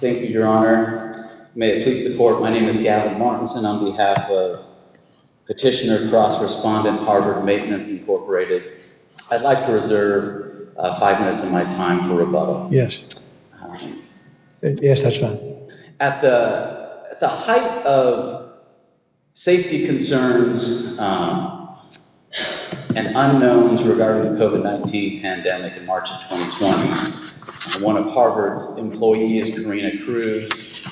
Thank you, Your Honor. May it please the Court, my name is Gavin Martinson on behalf of Petitioner-Cross Respondent, Harvard Maintenance Incorporated. I'd like to reserve five minutes of my time for rebuttal. Yes. Yes, that's fine. At the height of safety concerns and unknowns regarding the COVID-19 pandemic in March of 2020, one of Harvard's employees, Karina Cruz,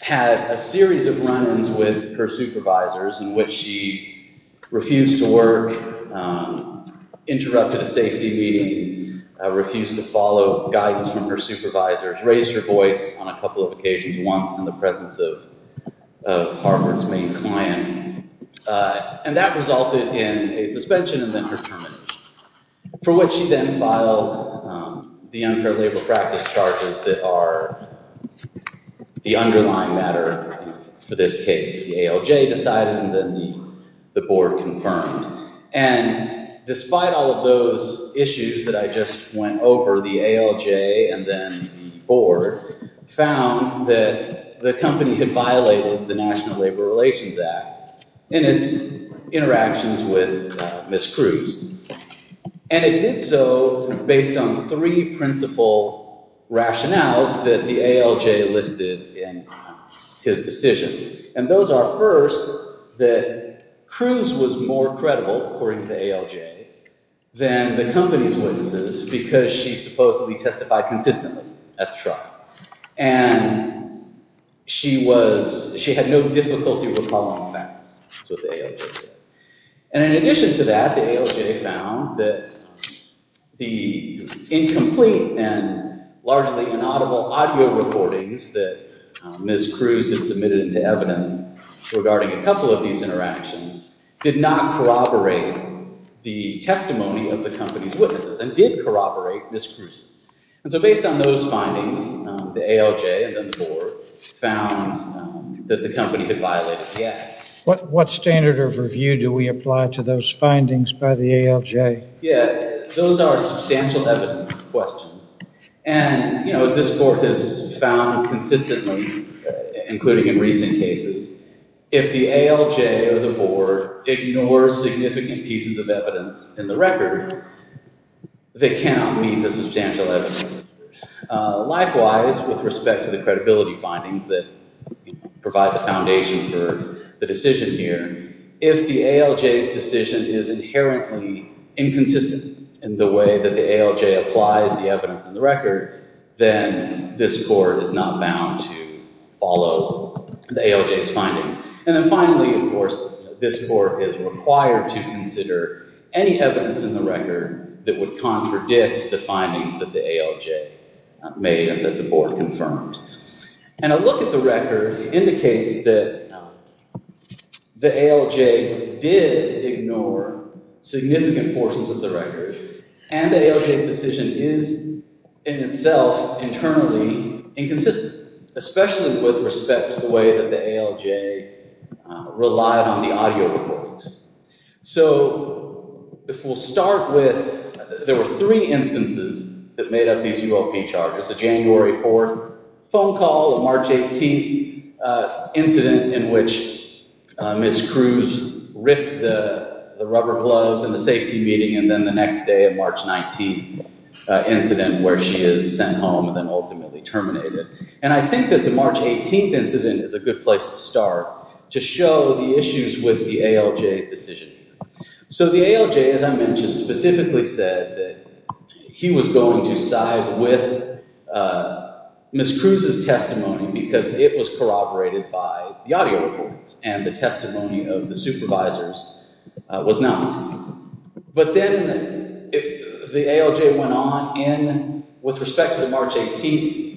had a series of run-ins with her supervisors in which she refused to work, interrupted a safety meeting, refused to follow guidance from her supervisors, raised her voice on a couple of occasions, once in the presence of Harvard's main client, and that resulted in a suspension and then her termination, for which she then filed the unfair labor practice charges that are the underlying matter for this case. The ALJ decided and then the Board confirmed. And despite all of those issues that I just went over, the ALJ and then the Board found that the company had violated the National Labor Relations Act in its interactions with Ms. Cruz. And it did so based on three principal rationales that the ALJ listed in his decision. And those are, first, that Cruz was more credible, according to the ALJ, than the company's witnesses because she supposedly testified consistently at the trial. And she was – she had no difficulty recalling facts with the ALJ. And in addition to that, the ALJ found that the incomplete and largely inaudible audio recordings that Ms. Cruz had submitted into evidence regarding a couple of these interactions did not corroborate the testimony of the company's witnesses and did corroborate Ms. Cruz's. And so based on those findings, the ALJ and then the Board found that the company had violated the act. What standard of review do we apply to those findings by the ALJ? Yeah, those are substantial evidence questions. And, you know, as this Board has found consistently, including in recent cases, if the ALJ or the Board ignores significant pieces of evidence in the record, they cannot meet the substantial evidence. Likewise, with respect to the credibility findings that provide the foundation for the decision here, if the ALJ's decision is inherently inconsistent in the way that the ALJ applies the evidence in the record, then this Board is not bound to follow the ALJ's findings. And then finally, of course, this Board is required to consider any evidence in the record that would contradict the findings that the ALJ made and that the Board confirmed. And a look at the record indicates that the ALJ did ignore significant portions of the record and the ALJ's decision is in itself internally inconsistent, especially with respect to the way that the ALJ relied on the audio recordings. So if we'll start with, there were three instances that made up these UOP charges. The January 4th phone call, the March 18th incident in which Ms. Cruz ripped the rubber gloves in the safety meeting, and then the next day, the March 19th incident where she is sent home and then ultimately terminated. And I think that the March 18th incident is a good place to start to show the issues with the ALJ's decision. So the ALJ, as I mentioned, specifically said that he was going to side with Ms. Cruz's testimony because it was corroborated by the audio records and the testimony of the supervisors was not. But then the ALJ went on with respect to the March 18th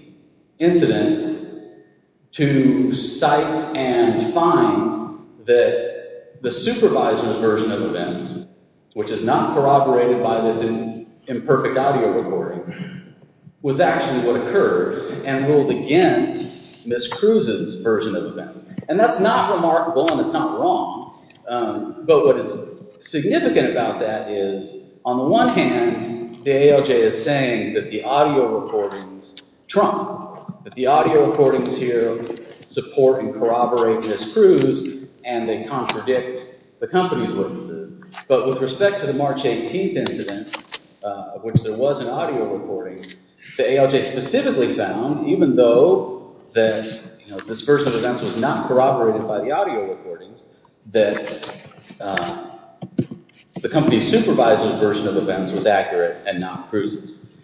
incident to cite and find that the supervisor's version of events, which is not corroborated by this imperfect audio recording, was actually what occurred and ruled against Ms. Cruz's version of events. And that's not remarkable and it's not wrong, but what is significant about that is on the one hand, the ALJ is saying that the audio recordings trump, that the audio recordings here support and corroborate Ms. Cruz and they contradict the company's witnesses. But with respect to the March 18th incident, which there was an audio recording, the ALJ specifically found, even though this version of events was not corroborated by the audio recordings, that the company's supervisor's version of events was accurate and not Cruz's.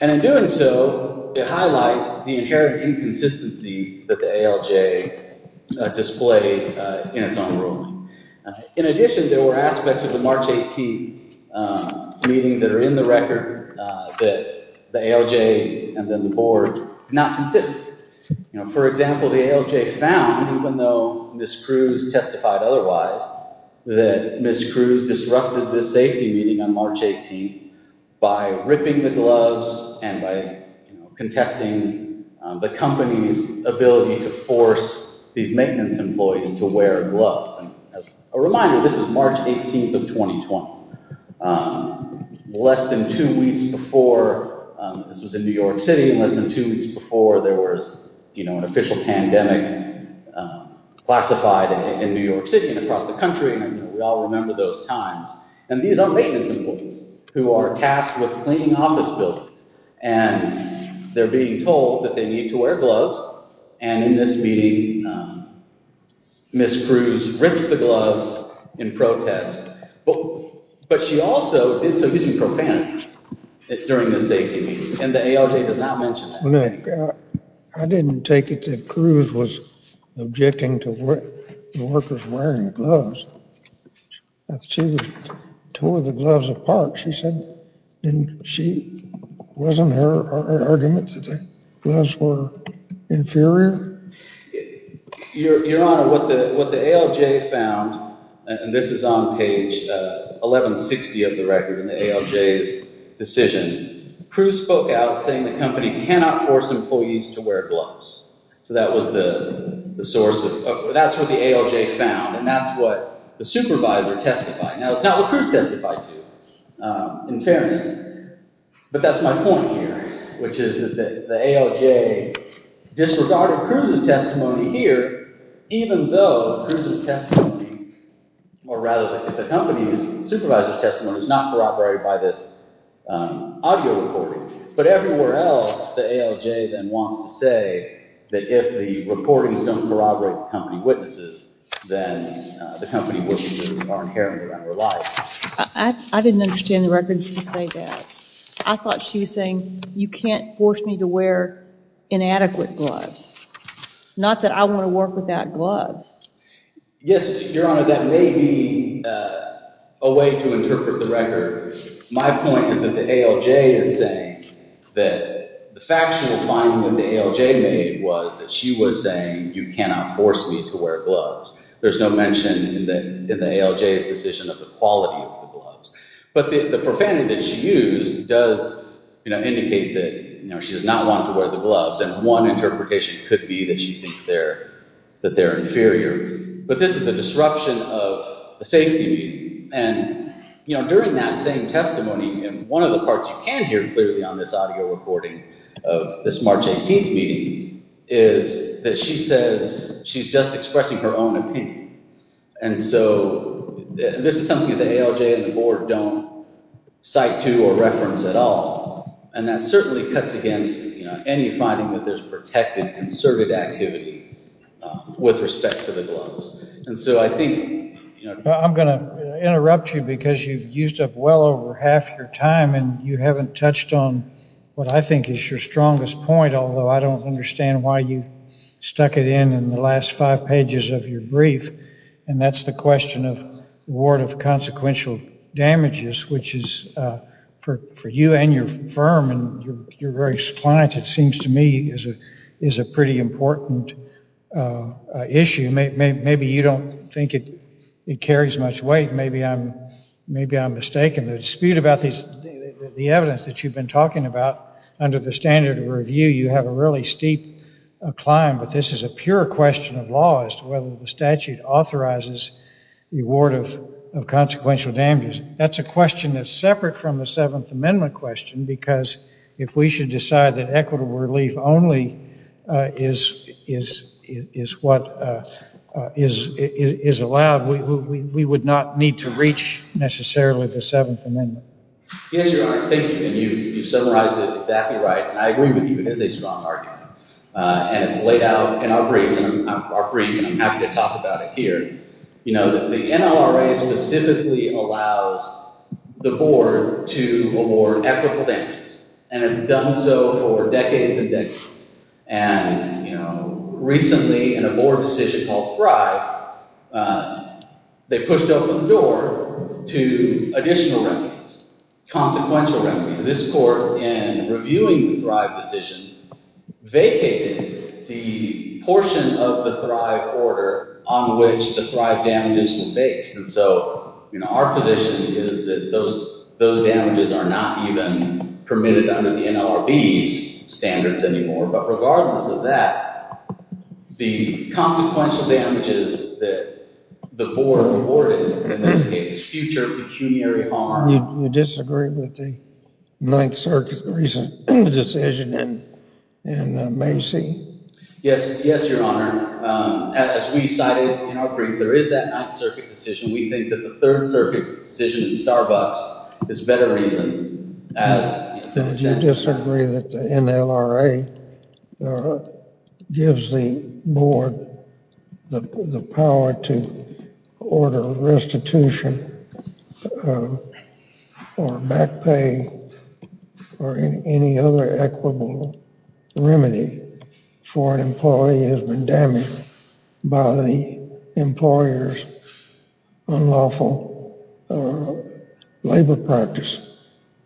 And in doing so, it highlights the inherent inconsistency that the ALJ displayed in its own ruling. In addition, there were aspects of the March 18th meeting that are in the record that the ALJ and then the board did not consider. For example, the ALJ found, even though Ms. Cruz testified otherwise, that Ms. Cruz disrupted the safety meeting on March 18th by ripping the gloves and by contesting the company's ability to force these maintenance employees to wear gloves. As a reminder, this is March 18th of 2020. Less than two weeks before, this was in New York City, less than two weeks before there was an official pandemic classified in New York City and across the country. We all remember those times. And these are maintenance employees who are tasked with cleaning office buildings. And they're being told that they need to wear gloves. And in this meeting, Ms. Cruz rips the gloves in protest. But she also did so using profanity during the safety meeting. And the ALJ does not mention that. I didn't take it that Cruz was objecting to the workers wearing gloves. She tore the gloves apart. She said she wasn't her argument that the gloves were inferior. Your Honor, what the ALJ found, and this is on page 1160 of the record in the ALJ's decision, Cruz spoke out saying the company cannot force employees to wear gloves. So that was the source of—that's what the ALJ found. And that's what the supervisor testified. Now, it's not what Cruz testified to, in fairness. But that's my point here, which is that the ALJ disregarded Cruz's testimony here, even though Cruz's testimony, or rather the company's supervisor's testimony, was not corroborated by this audio recording. But everywhere else, the ALJ then wants to say that if the recording is going to corroborate the company witnesses, then the company workers are inherently under-reliant. I didn't understand the record when she said that. I thought she was saying, you can't force me to wear inadequate gloves. Not that I want to work without gloves. Yes, Your Honor, that may be a way to interpret the record. My point is that the ALJ is saying that the factual finding that the ALJ made was that she was saying, you cannot force me to wear gloves. There's no mention in the ALJ's decision of the quality of the gloves. But the profanity that she used does indicate that she does not want to wear the gloves, and one interpretation could be that she thinks that they're inferior. But this is a disruption of a safety meeting. And during that same testimony, and one of the parts you can hear clearly on this audio recording of this March 18th meeting, is that she says she's just expressing her own opinion. And so this is something that the ALJ and the board don't cite to or reference at all. And that certainly cuts against any finding that there's protected, concerted activity with respect to the gloves. And so I think— I'm going to interrupt you because you've used up well over half your time, and you haven't touched on what I think is your strongest point, although I don't understand why you stuck it in in the last five pages of your brief, and that's the question of reward of consequential damages, which is, for you and your firm and your various clients, it seems to me is a pretty important issue. Maybe you don't think it carries much weight. Maybe I'm mistaken. The dispute about the evidence that you've been talking about, under the standard of review, you have a really steep climb, but this is a pure question of law as to whether the statute authorizes the reward of consequential damages. That's a question that's separate from the Seventh Amendment question because if we should decide that equitable relief only is what is allowed, we would not need to reach, necessarily, the Seventh Amendment. Yes, Your Honor, thank you. And you've summarized it exactly right, and I agree with you. It is a strong argument, and it's laid out in our brief, and I'm happy to talk about it here. The NLRA specifically allows the board to award equitable damages, and it's done so for decades and decades. And recently, in a board decision called Thrive, they pushed open the door to additional remedies, consequential remedies. This court, in reviewing the Thrive decision, vacated the portion of the Thrive order on which the Thrive damages were based. And so our position is that those damages are not even permitted under the NLRB's standards anymore. But regardless of that, the consequential damages that the board awarded, in this case, future pecuniary harm. You disagree with the Ninth Circuit's recent decision in Macy? Yes, Your Honor. As we cited in our brief, there is that Ninth Circuit decision. We think that the Third Circuit's decision in Starbucks is better reasoned. You disagree that the NLRA gives the board the power to order restitution or back pay or any other equitable remedy for an employee who has been damaged by the employer's unlawful labor practice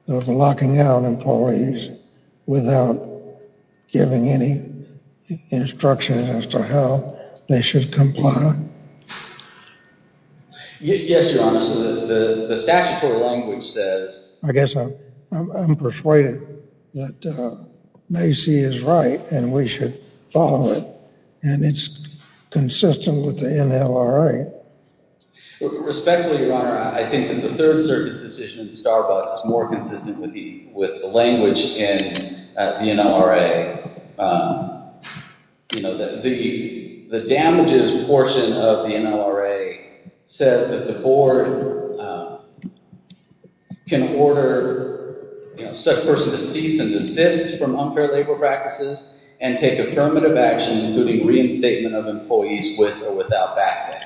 of locking out employees without giving any instructions as to how they should comply? Yes, Your Honor. So the statutory language says... I guess I'm persuaded that Macy is right and we should follow it. And it's consistent with the NLRA. Respectfully, Your Honor, I think that the Third Circuit's decision in Starbucks is more consistent with the language in the NLRA. The damages portion of the NLRA says that the board can order a person to cease and desist from unfair labor practices and take affirmative action including reinstatement of employees with or without back pay.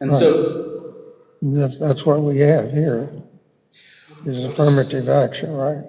That's what we have here is affirmative action, right?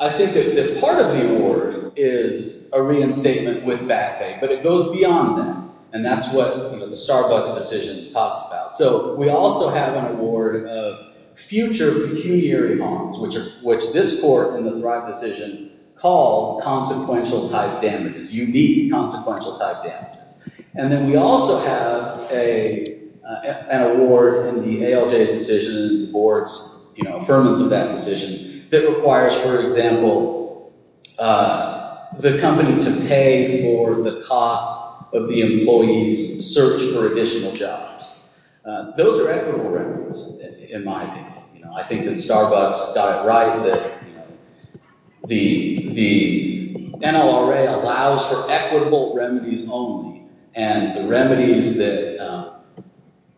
I think that part of the award is a reinstatement with back pay, but it goes beyond that, and that's what the Starbucks decision talks about. So we also have an award of future pecuniary harms, which this court in the Thrive decision called consequential-type damages, unique consequential-type damages. And then we also have an award in the ALJ's decision and the board's affirmance of that decision that requires, for example, the company to pay for the cost of the employee's search for additional jobs. Those are equitable records in my opinion. I think that Starbucks got it right that the NLRA allows for equitable remedies only, and the remedies that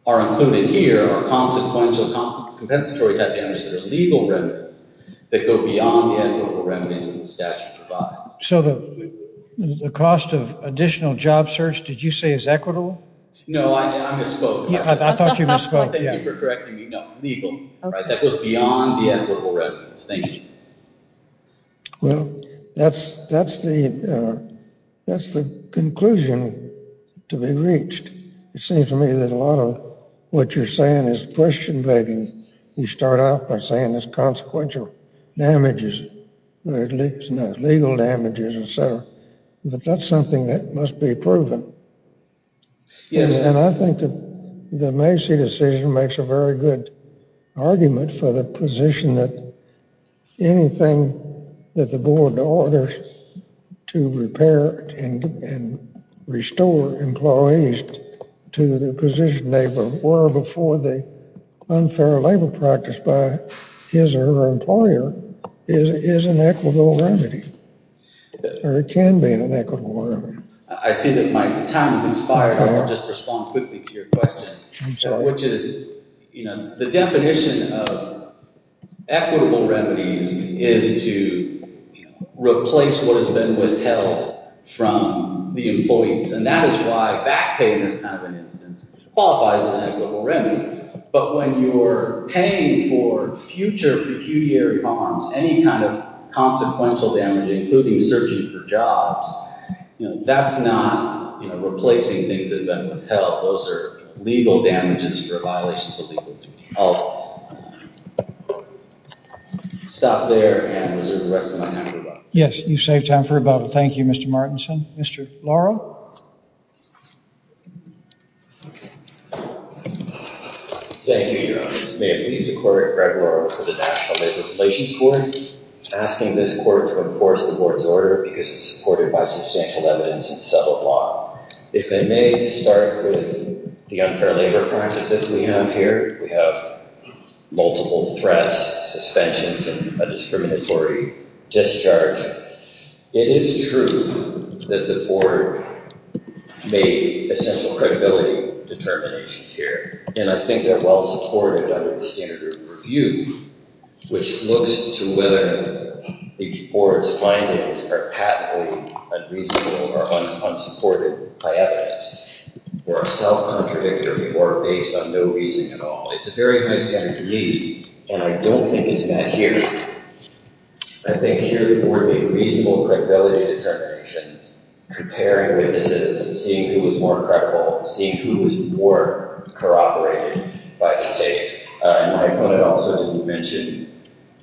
are included here are consequential compensatory-type damages that are legal remedies that go beyond the equitable remedies that the statute provides. So the cost of additional job search, did you say is equitable? No, I misspoke. I thought you misspoke. Thank you for correcting me. No, legal. That goes beyond the equitable remedies. Thank you. Well, that's the conclusion to be reached. It seems to me that a lot of what you're saying is question-begging. You start off by saying it's consequential damages, legal damages, et cetera. But that's something that must be proven. And I think that the Macy decision makes a very good argument for the position that anything that the board orders to repair and restore employees to the position they were before the unfair labor practice by his or her employer is an equitable remedy, or it can be an equitable remedy. I see that my time has expired. I want to just respond quickly to your question, which is the definition of equitable remedies is to replace what has been withheld from the employees, and that is why back pay in this kind of an instance qualifies as an equitable remedy. But when you're paying for future pecuniary harms, any kind of consequential damage, including searching for jobs, that's not replacing things that have been withheld. Those are legal damages for violations of the legal duty. I'll stop there and reserve the rest of my time for rebuttal. Yes, you've saved time for rebuttal. Thank you, Mr. Martinson. Mr. Laurel? Thank you, Your Honor. May it please the Court, Greg Laurel for the National Labor Replacements Court, asking this Court to enforce the Board's order because it's supported by substantial evidence and subtle law. If I may start with the unfair labor practice as we have here, we have multiple threats, suspensions, and a discriminatory discharge. It is true that the Board made essential credibility determinations here, and I think they're well supported under the standard of review, which looks to whether the Board's findings are patently unreasonable or unsupported by evidence, or are self-contradictory or based on no reasoning at all. It's a very high standard for me, and I don't think it's met here. I think here the Board made reasonable credibility determinations, comparing witnesses and seeing who was more credible, seeing who was more corroborated by the take. And I wanted also to mention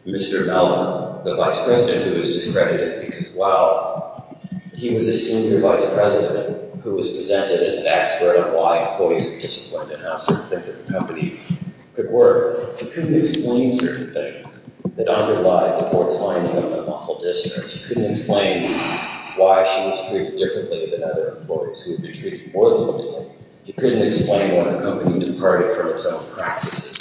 Mr. Mellon, the Vice President, who was discredited because while he was a senior Vice President who was presented as an expert of why employees were disciplined and how certain things at the company could work, he couldn't explain certain things that underlie the Board's finding of an unlawful discharge. He couldn't explain why she was treated differently than other employees who had been treated more than willingly. He couldn't explain why the company departed from its own practices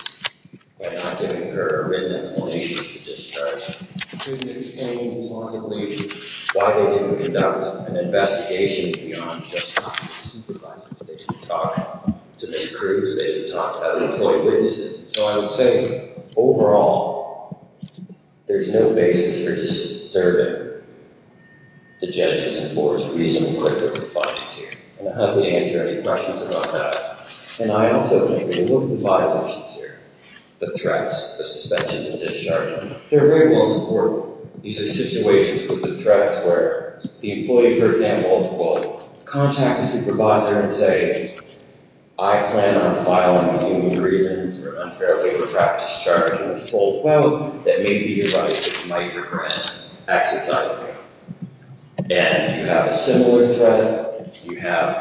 by not giving her a written explanation of the discharge. He couldn't explain plausibly why they didn't conduct an investigation beyond just talking to supervisors. They didn't talk to their crews. They didn't talk to other employee witnesses. So I would say, overall, there's no basis for disturbing the judgments of the Board's reasonable credibility findings here. And I'll gladly answer any questions about that. And I also think there are a lot of violations here. The threats, the suspension, the discharge, they're very well supported. These are situations with the threats where the employee, for example, will contact the supervisor and say, I plan on filing a human grievance or unfairly retract discharge in full, well, that may be the right thing you might recommend exercising. And you have a similar threat. You have,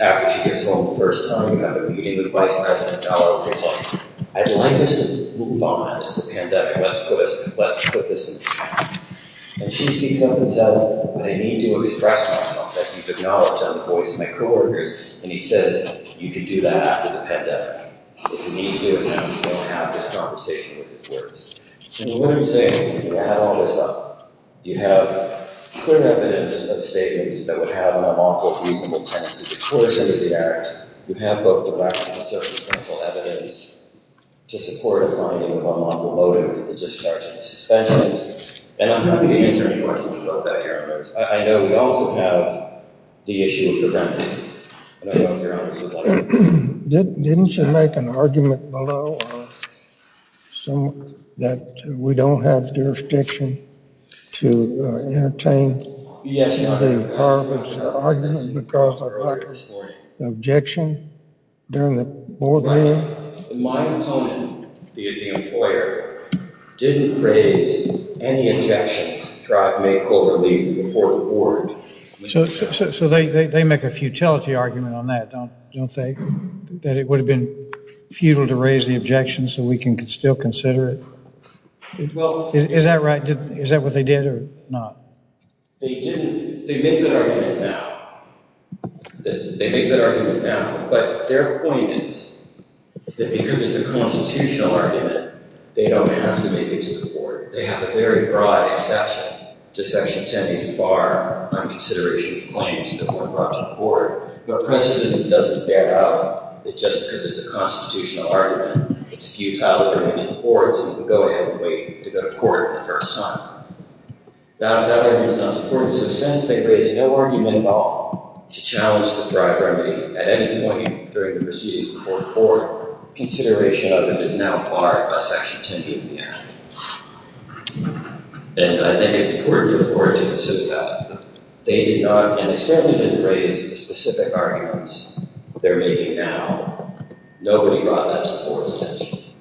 after she gets home the first time, you have a meeting with Vice President Dallas, and he's like, I'd like us to move on as a pandemic, let's put this in practice. And she speaks up and says, I need to express myself, as he's acknowledged on the voice of my co-workers, and he says, you can do that after the pandemic. If you need to do it now, you don't have this conversation with his words. So what I'm saying is, you have all this up. You have clear evidence of statements that would have an unlawful, reasonable tendency to coerce into the act. You have both the background and circumstantial evidence to support a finding of unlawful motive for the discharge and suspensions. And I'm happy to answer any questions about that, Your Honors. I know we also have the issue of the remedies. I don't know if Your Honors would like to? Didn't you make an argument below that we don't have jurisdiction to entertain the department's argument because of lack of objection during the board meeting? My opponent, the employer, didn't raise any objection to try to make co-relief before the board. So they make a futility argument on that, don't they? That it would have been futile to raise the objection so we can still consider it? Is that right? Is that what they did or not? They didn't. They make that argument now. They make that argument now. But their point is that because it's a constitutional argument, they don't have to make it to the board. They have a very broad exception to Section 10B's bar on consideration of claims that were brought to the board. But precedent doesn't bear out that just because it's a constitutional argument, it's futile to bring it to the board so we can go ahead and wait to go to court the first time. That argument is not supported. So since they raised no argument at all to challenge the dry remedy at any point during the proceedings before the board, their consideration of it is now barred by Section 10B of the Act. And I think it's important for the board to consider that. They did not, and they certainly didn't raise the specific arguments they're making now. Nobody brought that to the board's attention.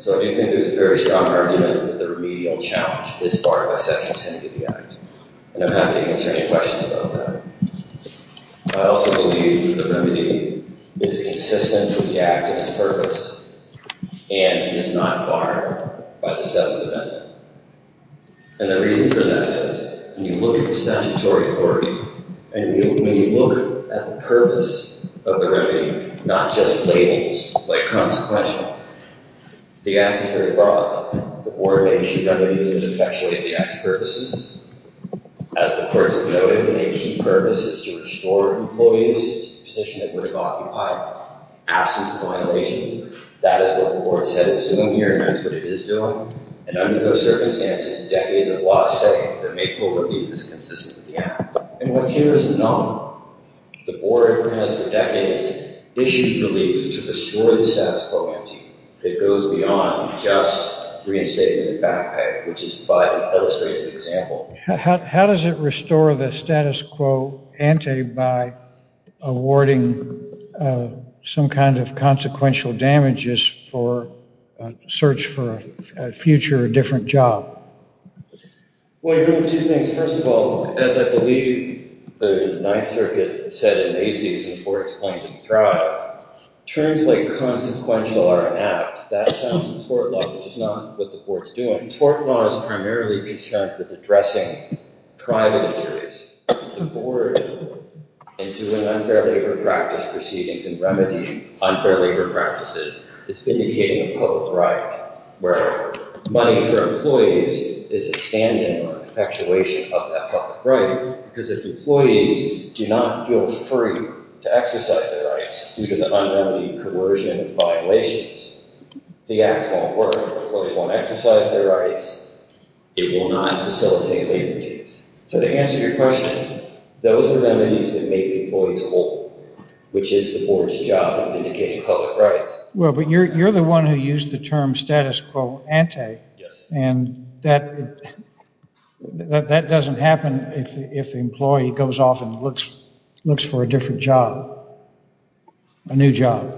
So I do think there's a very strong argument that the remedial challenge is barred by Section 10B of the Act. And I'm happy to answer any questions about that. I also believe the remedy is consistent with the Act and its purpose, and it is not barred by the seventh amendment. And the reason for that is when you look at the statutory authority, and when you look at the purpose of the remedy, not just labels like consequential, the Act is very broad. The board makes sure that it is as effective as the Act's purposes. As the person noted, a key purpose is to restore employees to a position that would have occupied absence of violation. That is what the board said it's doing here, and that's what it is doing. And under those circumstances, decades of law say that make-full relief is consistent with the Act. And what's here is not. The board has for decades issued relief to destroy the status quo ante that goes beyond just reinstatement of back pay, which is by the illustrated example. How does it restore the status quo ante by awarding some kind of consequential damages for a search for a future or different job? Well, you're doing two things. First of all, as I believe the Ninth Circuit said in AC's and the board's claim to the trial, terms like consequential are an act. That's not in the court law, which is not what the board's doing. The court law is primarily concerned with addressing private injuries. The board, in doing unfair labor practice proceedings and remedying unfair labor practices, is vindicating a public right where money for employees is a stand-in or an effectuation of that public right because if employees do not feel free to exercise their rights due to the unremitting coercion and violations, the Act won't work. Employees won't exercise their rights. It will not facilitate labor duties. So to answer your question, those are remedies that make employees whole, which is the board's job of vindicating public rights. Well, but you're the one who used the term status quo ante, and that doesn't happen if the employee goes off and looks for a different job, a new job.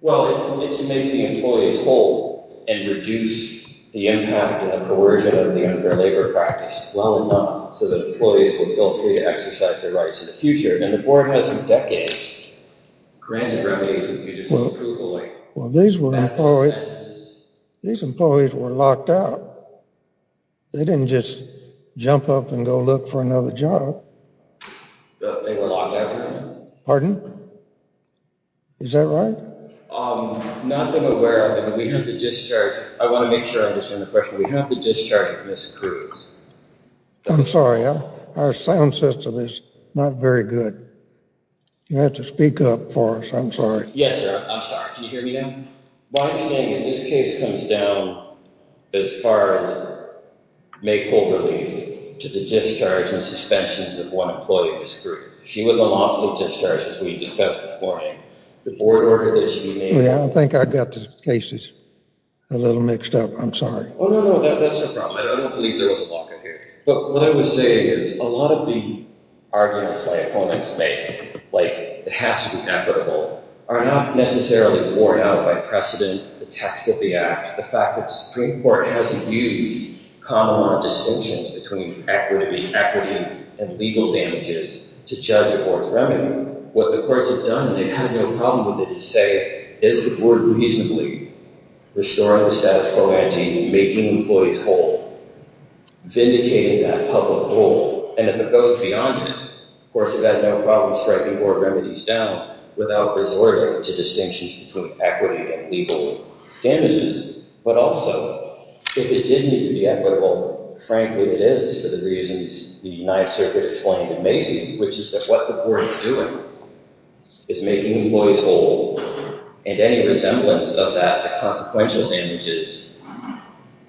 Well, it's to make the employees whole and reduce the impact and the coercion of the unfair labor practice well enough so that employees will feel free to exercise their rights in the future. And the board has for decades granted remedies which you just won't approve of later. Well, these employees were locked out. They didn't just jump up and go look for another job. No, they were locked out. Pardon? Is that right? Not that I'm aware of, but we have the discharge. I want to make sure I understand the question. We have the discharge of Ms. Cruz. I'm sorry. Our sound system is not very good. You'll have to speak up for us. I'm sorry. Yes, sir. I'm sorry. Can you hear me now? One thing is this case comes down as far as maypole relief to the discharge and suspensions of one employee, Ms. Cruz. She was unlawfully discharged, as we discussed this morning. The board ordered that she be made... I think I got the cases a little mixed up. I'm sorry. Oh, no, no. That's the problem. I don't believe there was a lockup here. But what I would say is a lot of the arguments my opponents make, like it has to be equitable, are not necessarily worn out by precedent, the text of the act, the fact that the Supreme Court hasn't used common law distinctions between equity and legal damages to judge a court's remedy. What the courts have done, and they've had no problem with it, is say, is the board reasonably restoring the status quo by making employees whole, vindicating that public role? And if it goes beyond that, the courts have had no problem striking board remedies down without resorting to distinctions between equity and legal damages. But also, if it did need to be equitable, frankly, it is, for the reasons the Ninth Circuit explained to Macy's, which is that what the board is doing is making employees whole, and any resemblance of that to consequential damages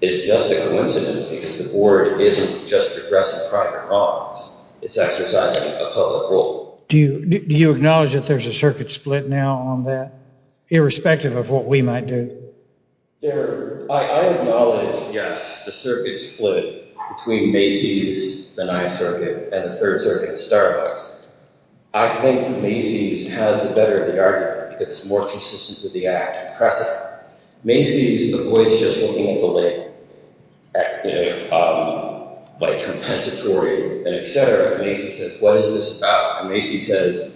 is just a coincidence because the board isn't just addressing private wrongs. It's exercising a public role. Do you acknowledge that there's a circuit split now on that, irrespective of what we might do? I acknowledge, yes, the circuit split between Macy's, the Ninth Circuit, and the Third Circuit at Starbucks. I think Macy's has the better of the argument because it's more consistent with the act and pressing it. Macy's avoids just looking at the label, like compensatory and et cetera. Macy's says, what is this about? And Macy's says,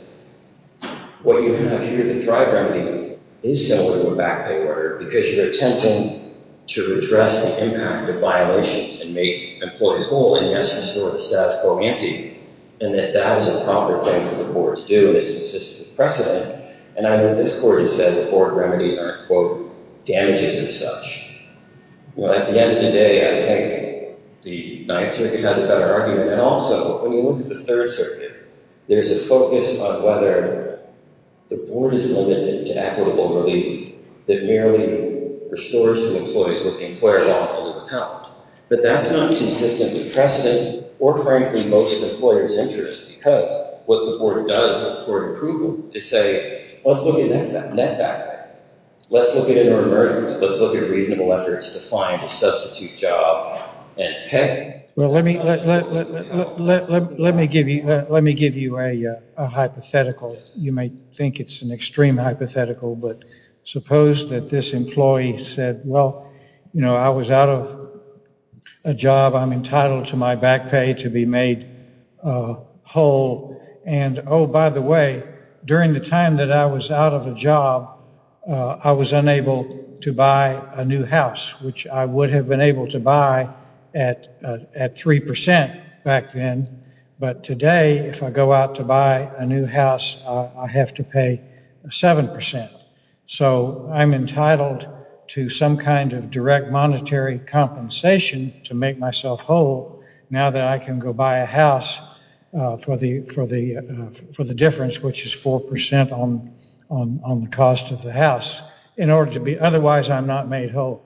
what you have here, the Thrive remedy, is to open a back pay order because you're attempting to redress the impact of violations and make employees whole, and yes, restore the status quo ante, and that that is a proper thing for the board to do. It's consistent with precedent. And I know this court has said the board remedies aren't, quote, damages as such. At the end of the day, I think the Ninth Circuit had the better argument. And also, when you look at the Third Circuit, there's a focus on whether the board is limited to equitable relief that merely restores to employees what the employer lawfully would count. But that's not consistent with precedent or, frankly, most employers' interest because what the board does with court approval is say, let's look at net back. Let's look at inter-emergence. Let's look at reasonable efforts to find a substitute job and pay. Well, let me give you a hypothetical. You may think it's an extreme hypothetical, but suppose that this employee said, well, you know, I was out of a job. I'm entitled to my back pay to be made whole. And, oh, by the way, during the time that I was out of a job, I was unable to buy a new house, which I would have been able to buy at 3% back then. But today, if I go out to buy a new house, I have to pay 7%. So I'm entitled to some kind of direct monetary compensation to make myself whole now that I can go buy a house for the difference, which is 4% on the cost of the house. Otherwise, I'm not made whole.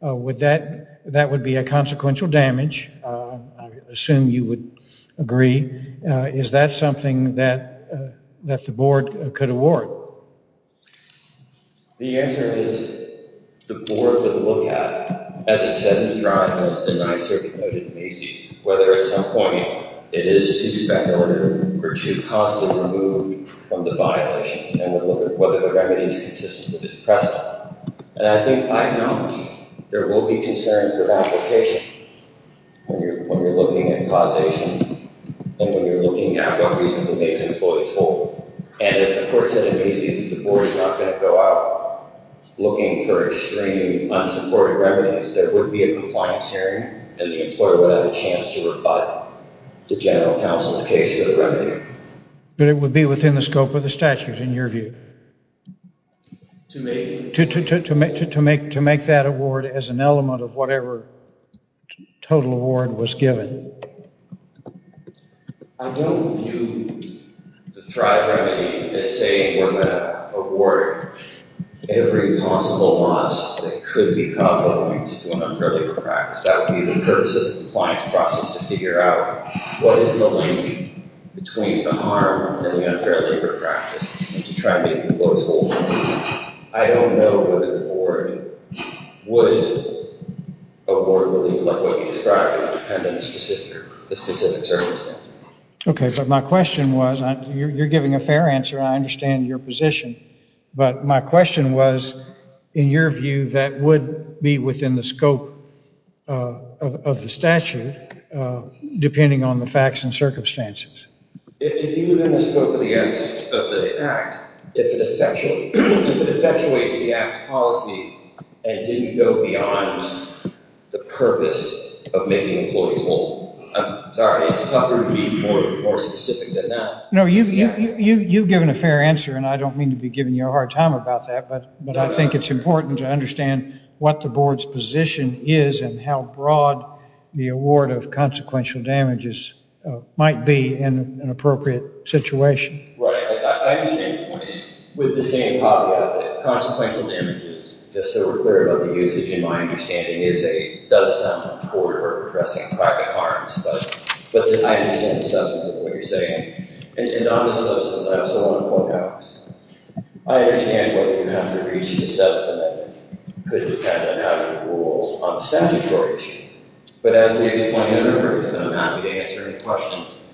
That would be a consequential damage. I assume you would agree. Is that something that the board could award? The answer is the board would look at, as it said in the trial, whether at some point it is to suspect order or to possibly remove from the violations and would look at whether the remedy is consistent with its precedent. And I think I know there will be concerns of application when you're looking at causation and when you're looking at what reasonably makes employees whole. And as the court said in Macy's, the board is not going to go out looking for extremely unsupported remedies. There would be a compliance hearing, and the employer would have a chance to rebut the general counsel's case for the remedy. But it would be within the scope of the statute, in your view, to make that award as an element of whatever total award was given. I don't view the Thrive remedy as saying we're going to award every possible loss that could be caused by a breach to an unfair labor practice. That would be the purpose of the compliance process to figure out what is the link between the harm and the unfair labor practice and to try to make the most of it. I don't know whether the board would award a relief like what you described depending on the specific circumstances. Okay, but my question was, you're giving a fair answer, and I understand your position, but my question was, in your view, that would be within the scope of the statute depending on the facts and circumstances. It would be within the scope of the act if it effectuates the act's policies and didn't go beyond the purpose of making employees whole. I'm sorry, it's tougher to be more specific than that. No, you've given a fair answer, and I don't mean to be giving you a hard time about that, but I think it's important to understand what the board's position is and how broad the award of consequential damages might be in an appropriate situation. Right, I understand your point. With the same caveat that consequential damages, just so we're clear about the usage in my understanding, does something toward or addressing private harms, but I understand the substance of what you're saying. And on the substance, I also want to point out I understand whether you have to reach the substance of it. It could depend on how you rule on the statutory issue. But as we explained earlier, and I'm happy to answer any questions,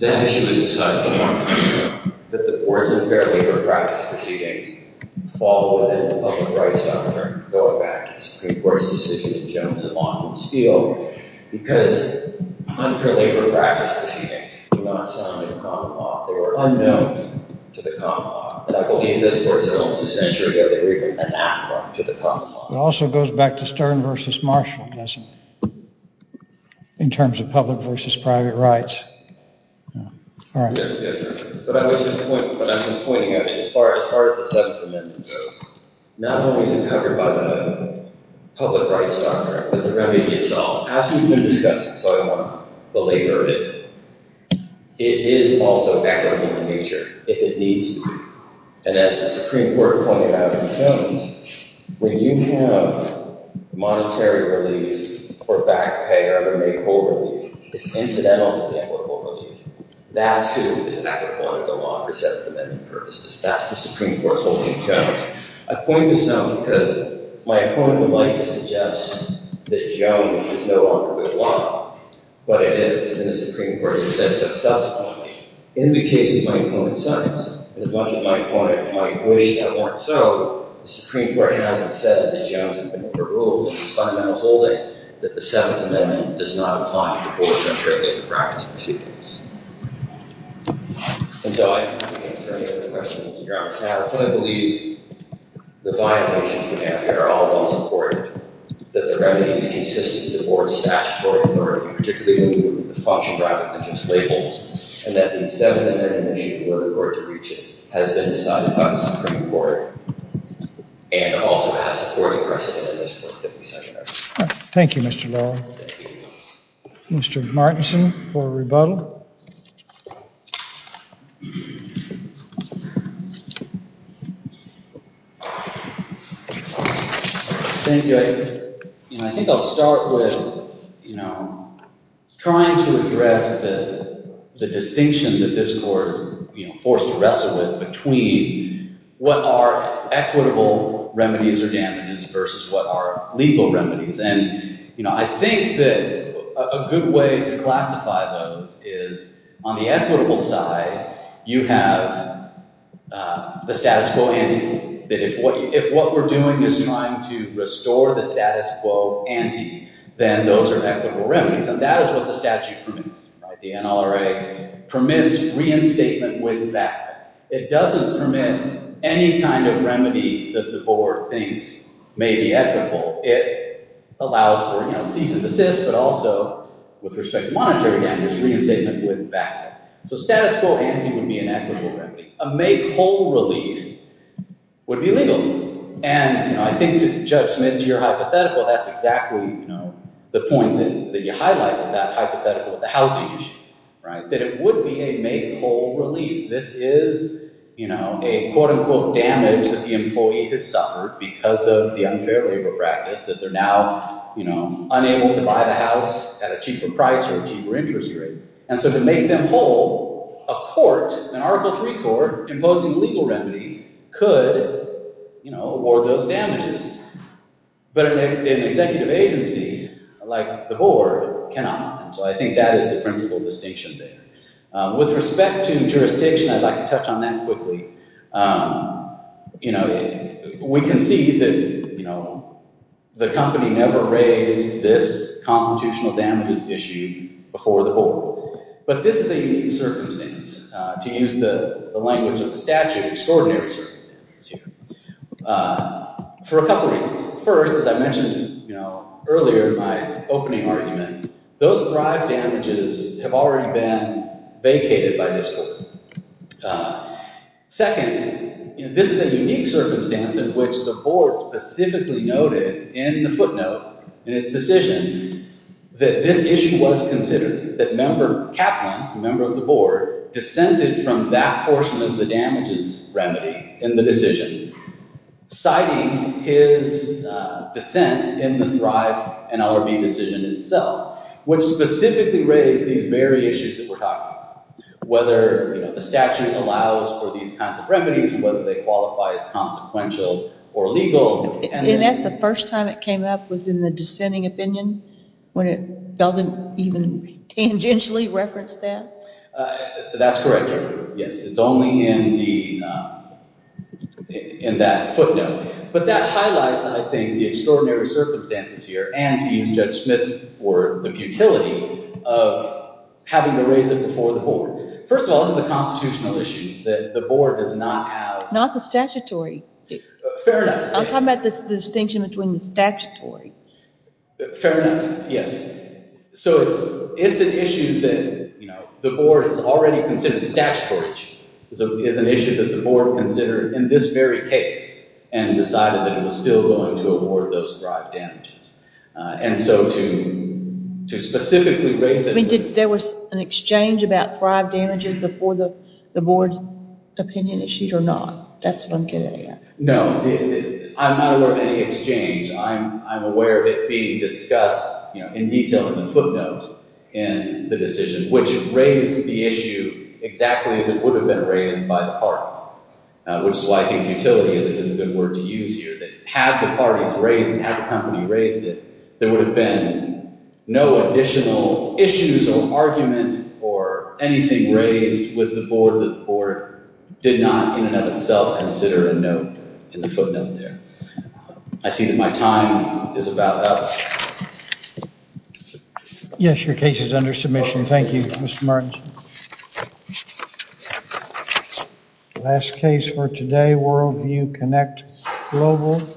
that issue has been decided for a long time now that the board's unfair labor practice proceedings fall within the public rights doctrine going back to Supreme Court's decision in Jones and Lawton and Steele because unfair labor practice proceedings do not sound in common law. They were unknown to the common law. And I believe this was almost a century ago they were even anachronistic to the common law. It also goes back to Stern v. Marshall, doesn't it? In terms of public v. private rights. Yes, sir. But I was just pointing out as far as the 7th Amendment goes, not only is it covered by the public rights doctrine, but the remedy itself. As we've been discussing, so I won't belabor it, it is also backward in nature if it needs to be. And as the Supreme Court pointed out in Jones, when you have monetary relief or back pay or other make-able relief, it's incidental to make-able relief. That, too, is not going to go on for 7th Amendment purposes. That's the Supreme Court's holding of Jones. I point this out because my opponent would like to suggest that Jones is no longer good law, but it is. And the Supreme Court has said so self-supportingly. In the case of my opponent's sons, and as much as my opponent might wish that weren't so, the Supreme Court hasn't said that Jones has been overruled. It's fundamental holding that the 7th Amendment does not apply to courts, I'm sure they would practice proceedings. And so I don't think I can answer any of the questions that you're asking. I fully believe the violations we have here are all well-supported, that the remedies consistent with the board's statutory authority, particularly when we look at the function rather than just labels, and that the 7th Amendment issue, where the court did reach it, has been decided by the Supreme Court and also has supported precedent in this court that we suggest. Thank you, Mr. Lowe. Mr. Martinson for rebuttal. Thank you. I think I'll start with, trying to address the distinction that this court is forced to wrestle with between what are equitable remedies or damages versus what are legal remedies. And I think that a good way to classify those is on the equitable side, you have the status quo ante. If what we're doing is trying to restore the status quo ante, then those are equitable remedies. And that is what the statute permits. The NLRA permits reinstatement with that. It doesn't permit any kind of remedy that the board thinks may be equitable. It allows for cease and desist, but also, with respect to monetary damages, reinstatement with that. So status quo ante would be an equitable remedy. A make-whole relief would be legal. And I think, Judge Smith, to your hypothetical, that's exactly the point that you highlighted, that hypothetical with the housing issue. That it would be a make-whole relief. This is a quote-unquote damage that the employee has suffered because of the unfair labor practice that they're now unable to buy the house at a cheaper price or a cheaper interest rate. And so to make them whole, a court, an Article III court, imposing legal remedies, could award those damages. But an executive agency, like the board, cannot. And so I think that is the principal distinction there. With respect to jurisdiction, I'd like to touch on that quickly. You know, we can see that, you know, the company never raised this constitutional damages issue before the board. But this is a unique circumstance. To use the language of the statute, extraordinary circumstances here. For a couple reasons. First, as I mentioned, you know, earlier in my opening argument, those thrive damages have already been vacated by this court. Second, this is a unique circumstance in which the board specifically noted in the footnote in its decision that this issue was considered, that member Kaplan, a member of the board, descended from that portion of the damages remedy in the decision, citing his dissent in the thrive NLRB decision itself, which specifically raised these very issues that we're talking about. Whether, you know, the statute allows for these kinds of remedies and whether they qualify as consequential or legal. And that's the first time it came up, was in the dissenting opinion, when it doesn't even tangentially reference that? That's correct, yes. It's only in that footnote. But that highlights, I think, the extraordinary circumstances here and to use Judge Smith's word, the futility of having to raise it before the board. First of all, this is a constitutional issue that the board does not have. Not the statutory. Fair enough. I'm talking about the distinction between the statutory. Fair enough, yes. So it's an issue that, you know, the board has already considered. The statutory is an issue that the board considered in this very case and decided that it was still going to award those thrive damages. And so to specifically raise it... I mean, there was an exchange about thrive damages before the board's opinion issued or not? That's what I'm getting at. No, I'm not aware of any exchange. I'm aware of it being discussed, you know, in detail in the footnote in the decision, which raised the issue exactly as it would have been raised by the parties, which is why I think futility is a good word to use here, that had the parties raised it, had the company raised it, there would have been no additional issues or arguments or anything raised with the board that the board did not in and of itself consider a note in the footnote there. I see that my time is about up. Yes, your case is under submission. Thank you, Mr. Martins. Last case for today, Worldview Connect Global.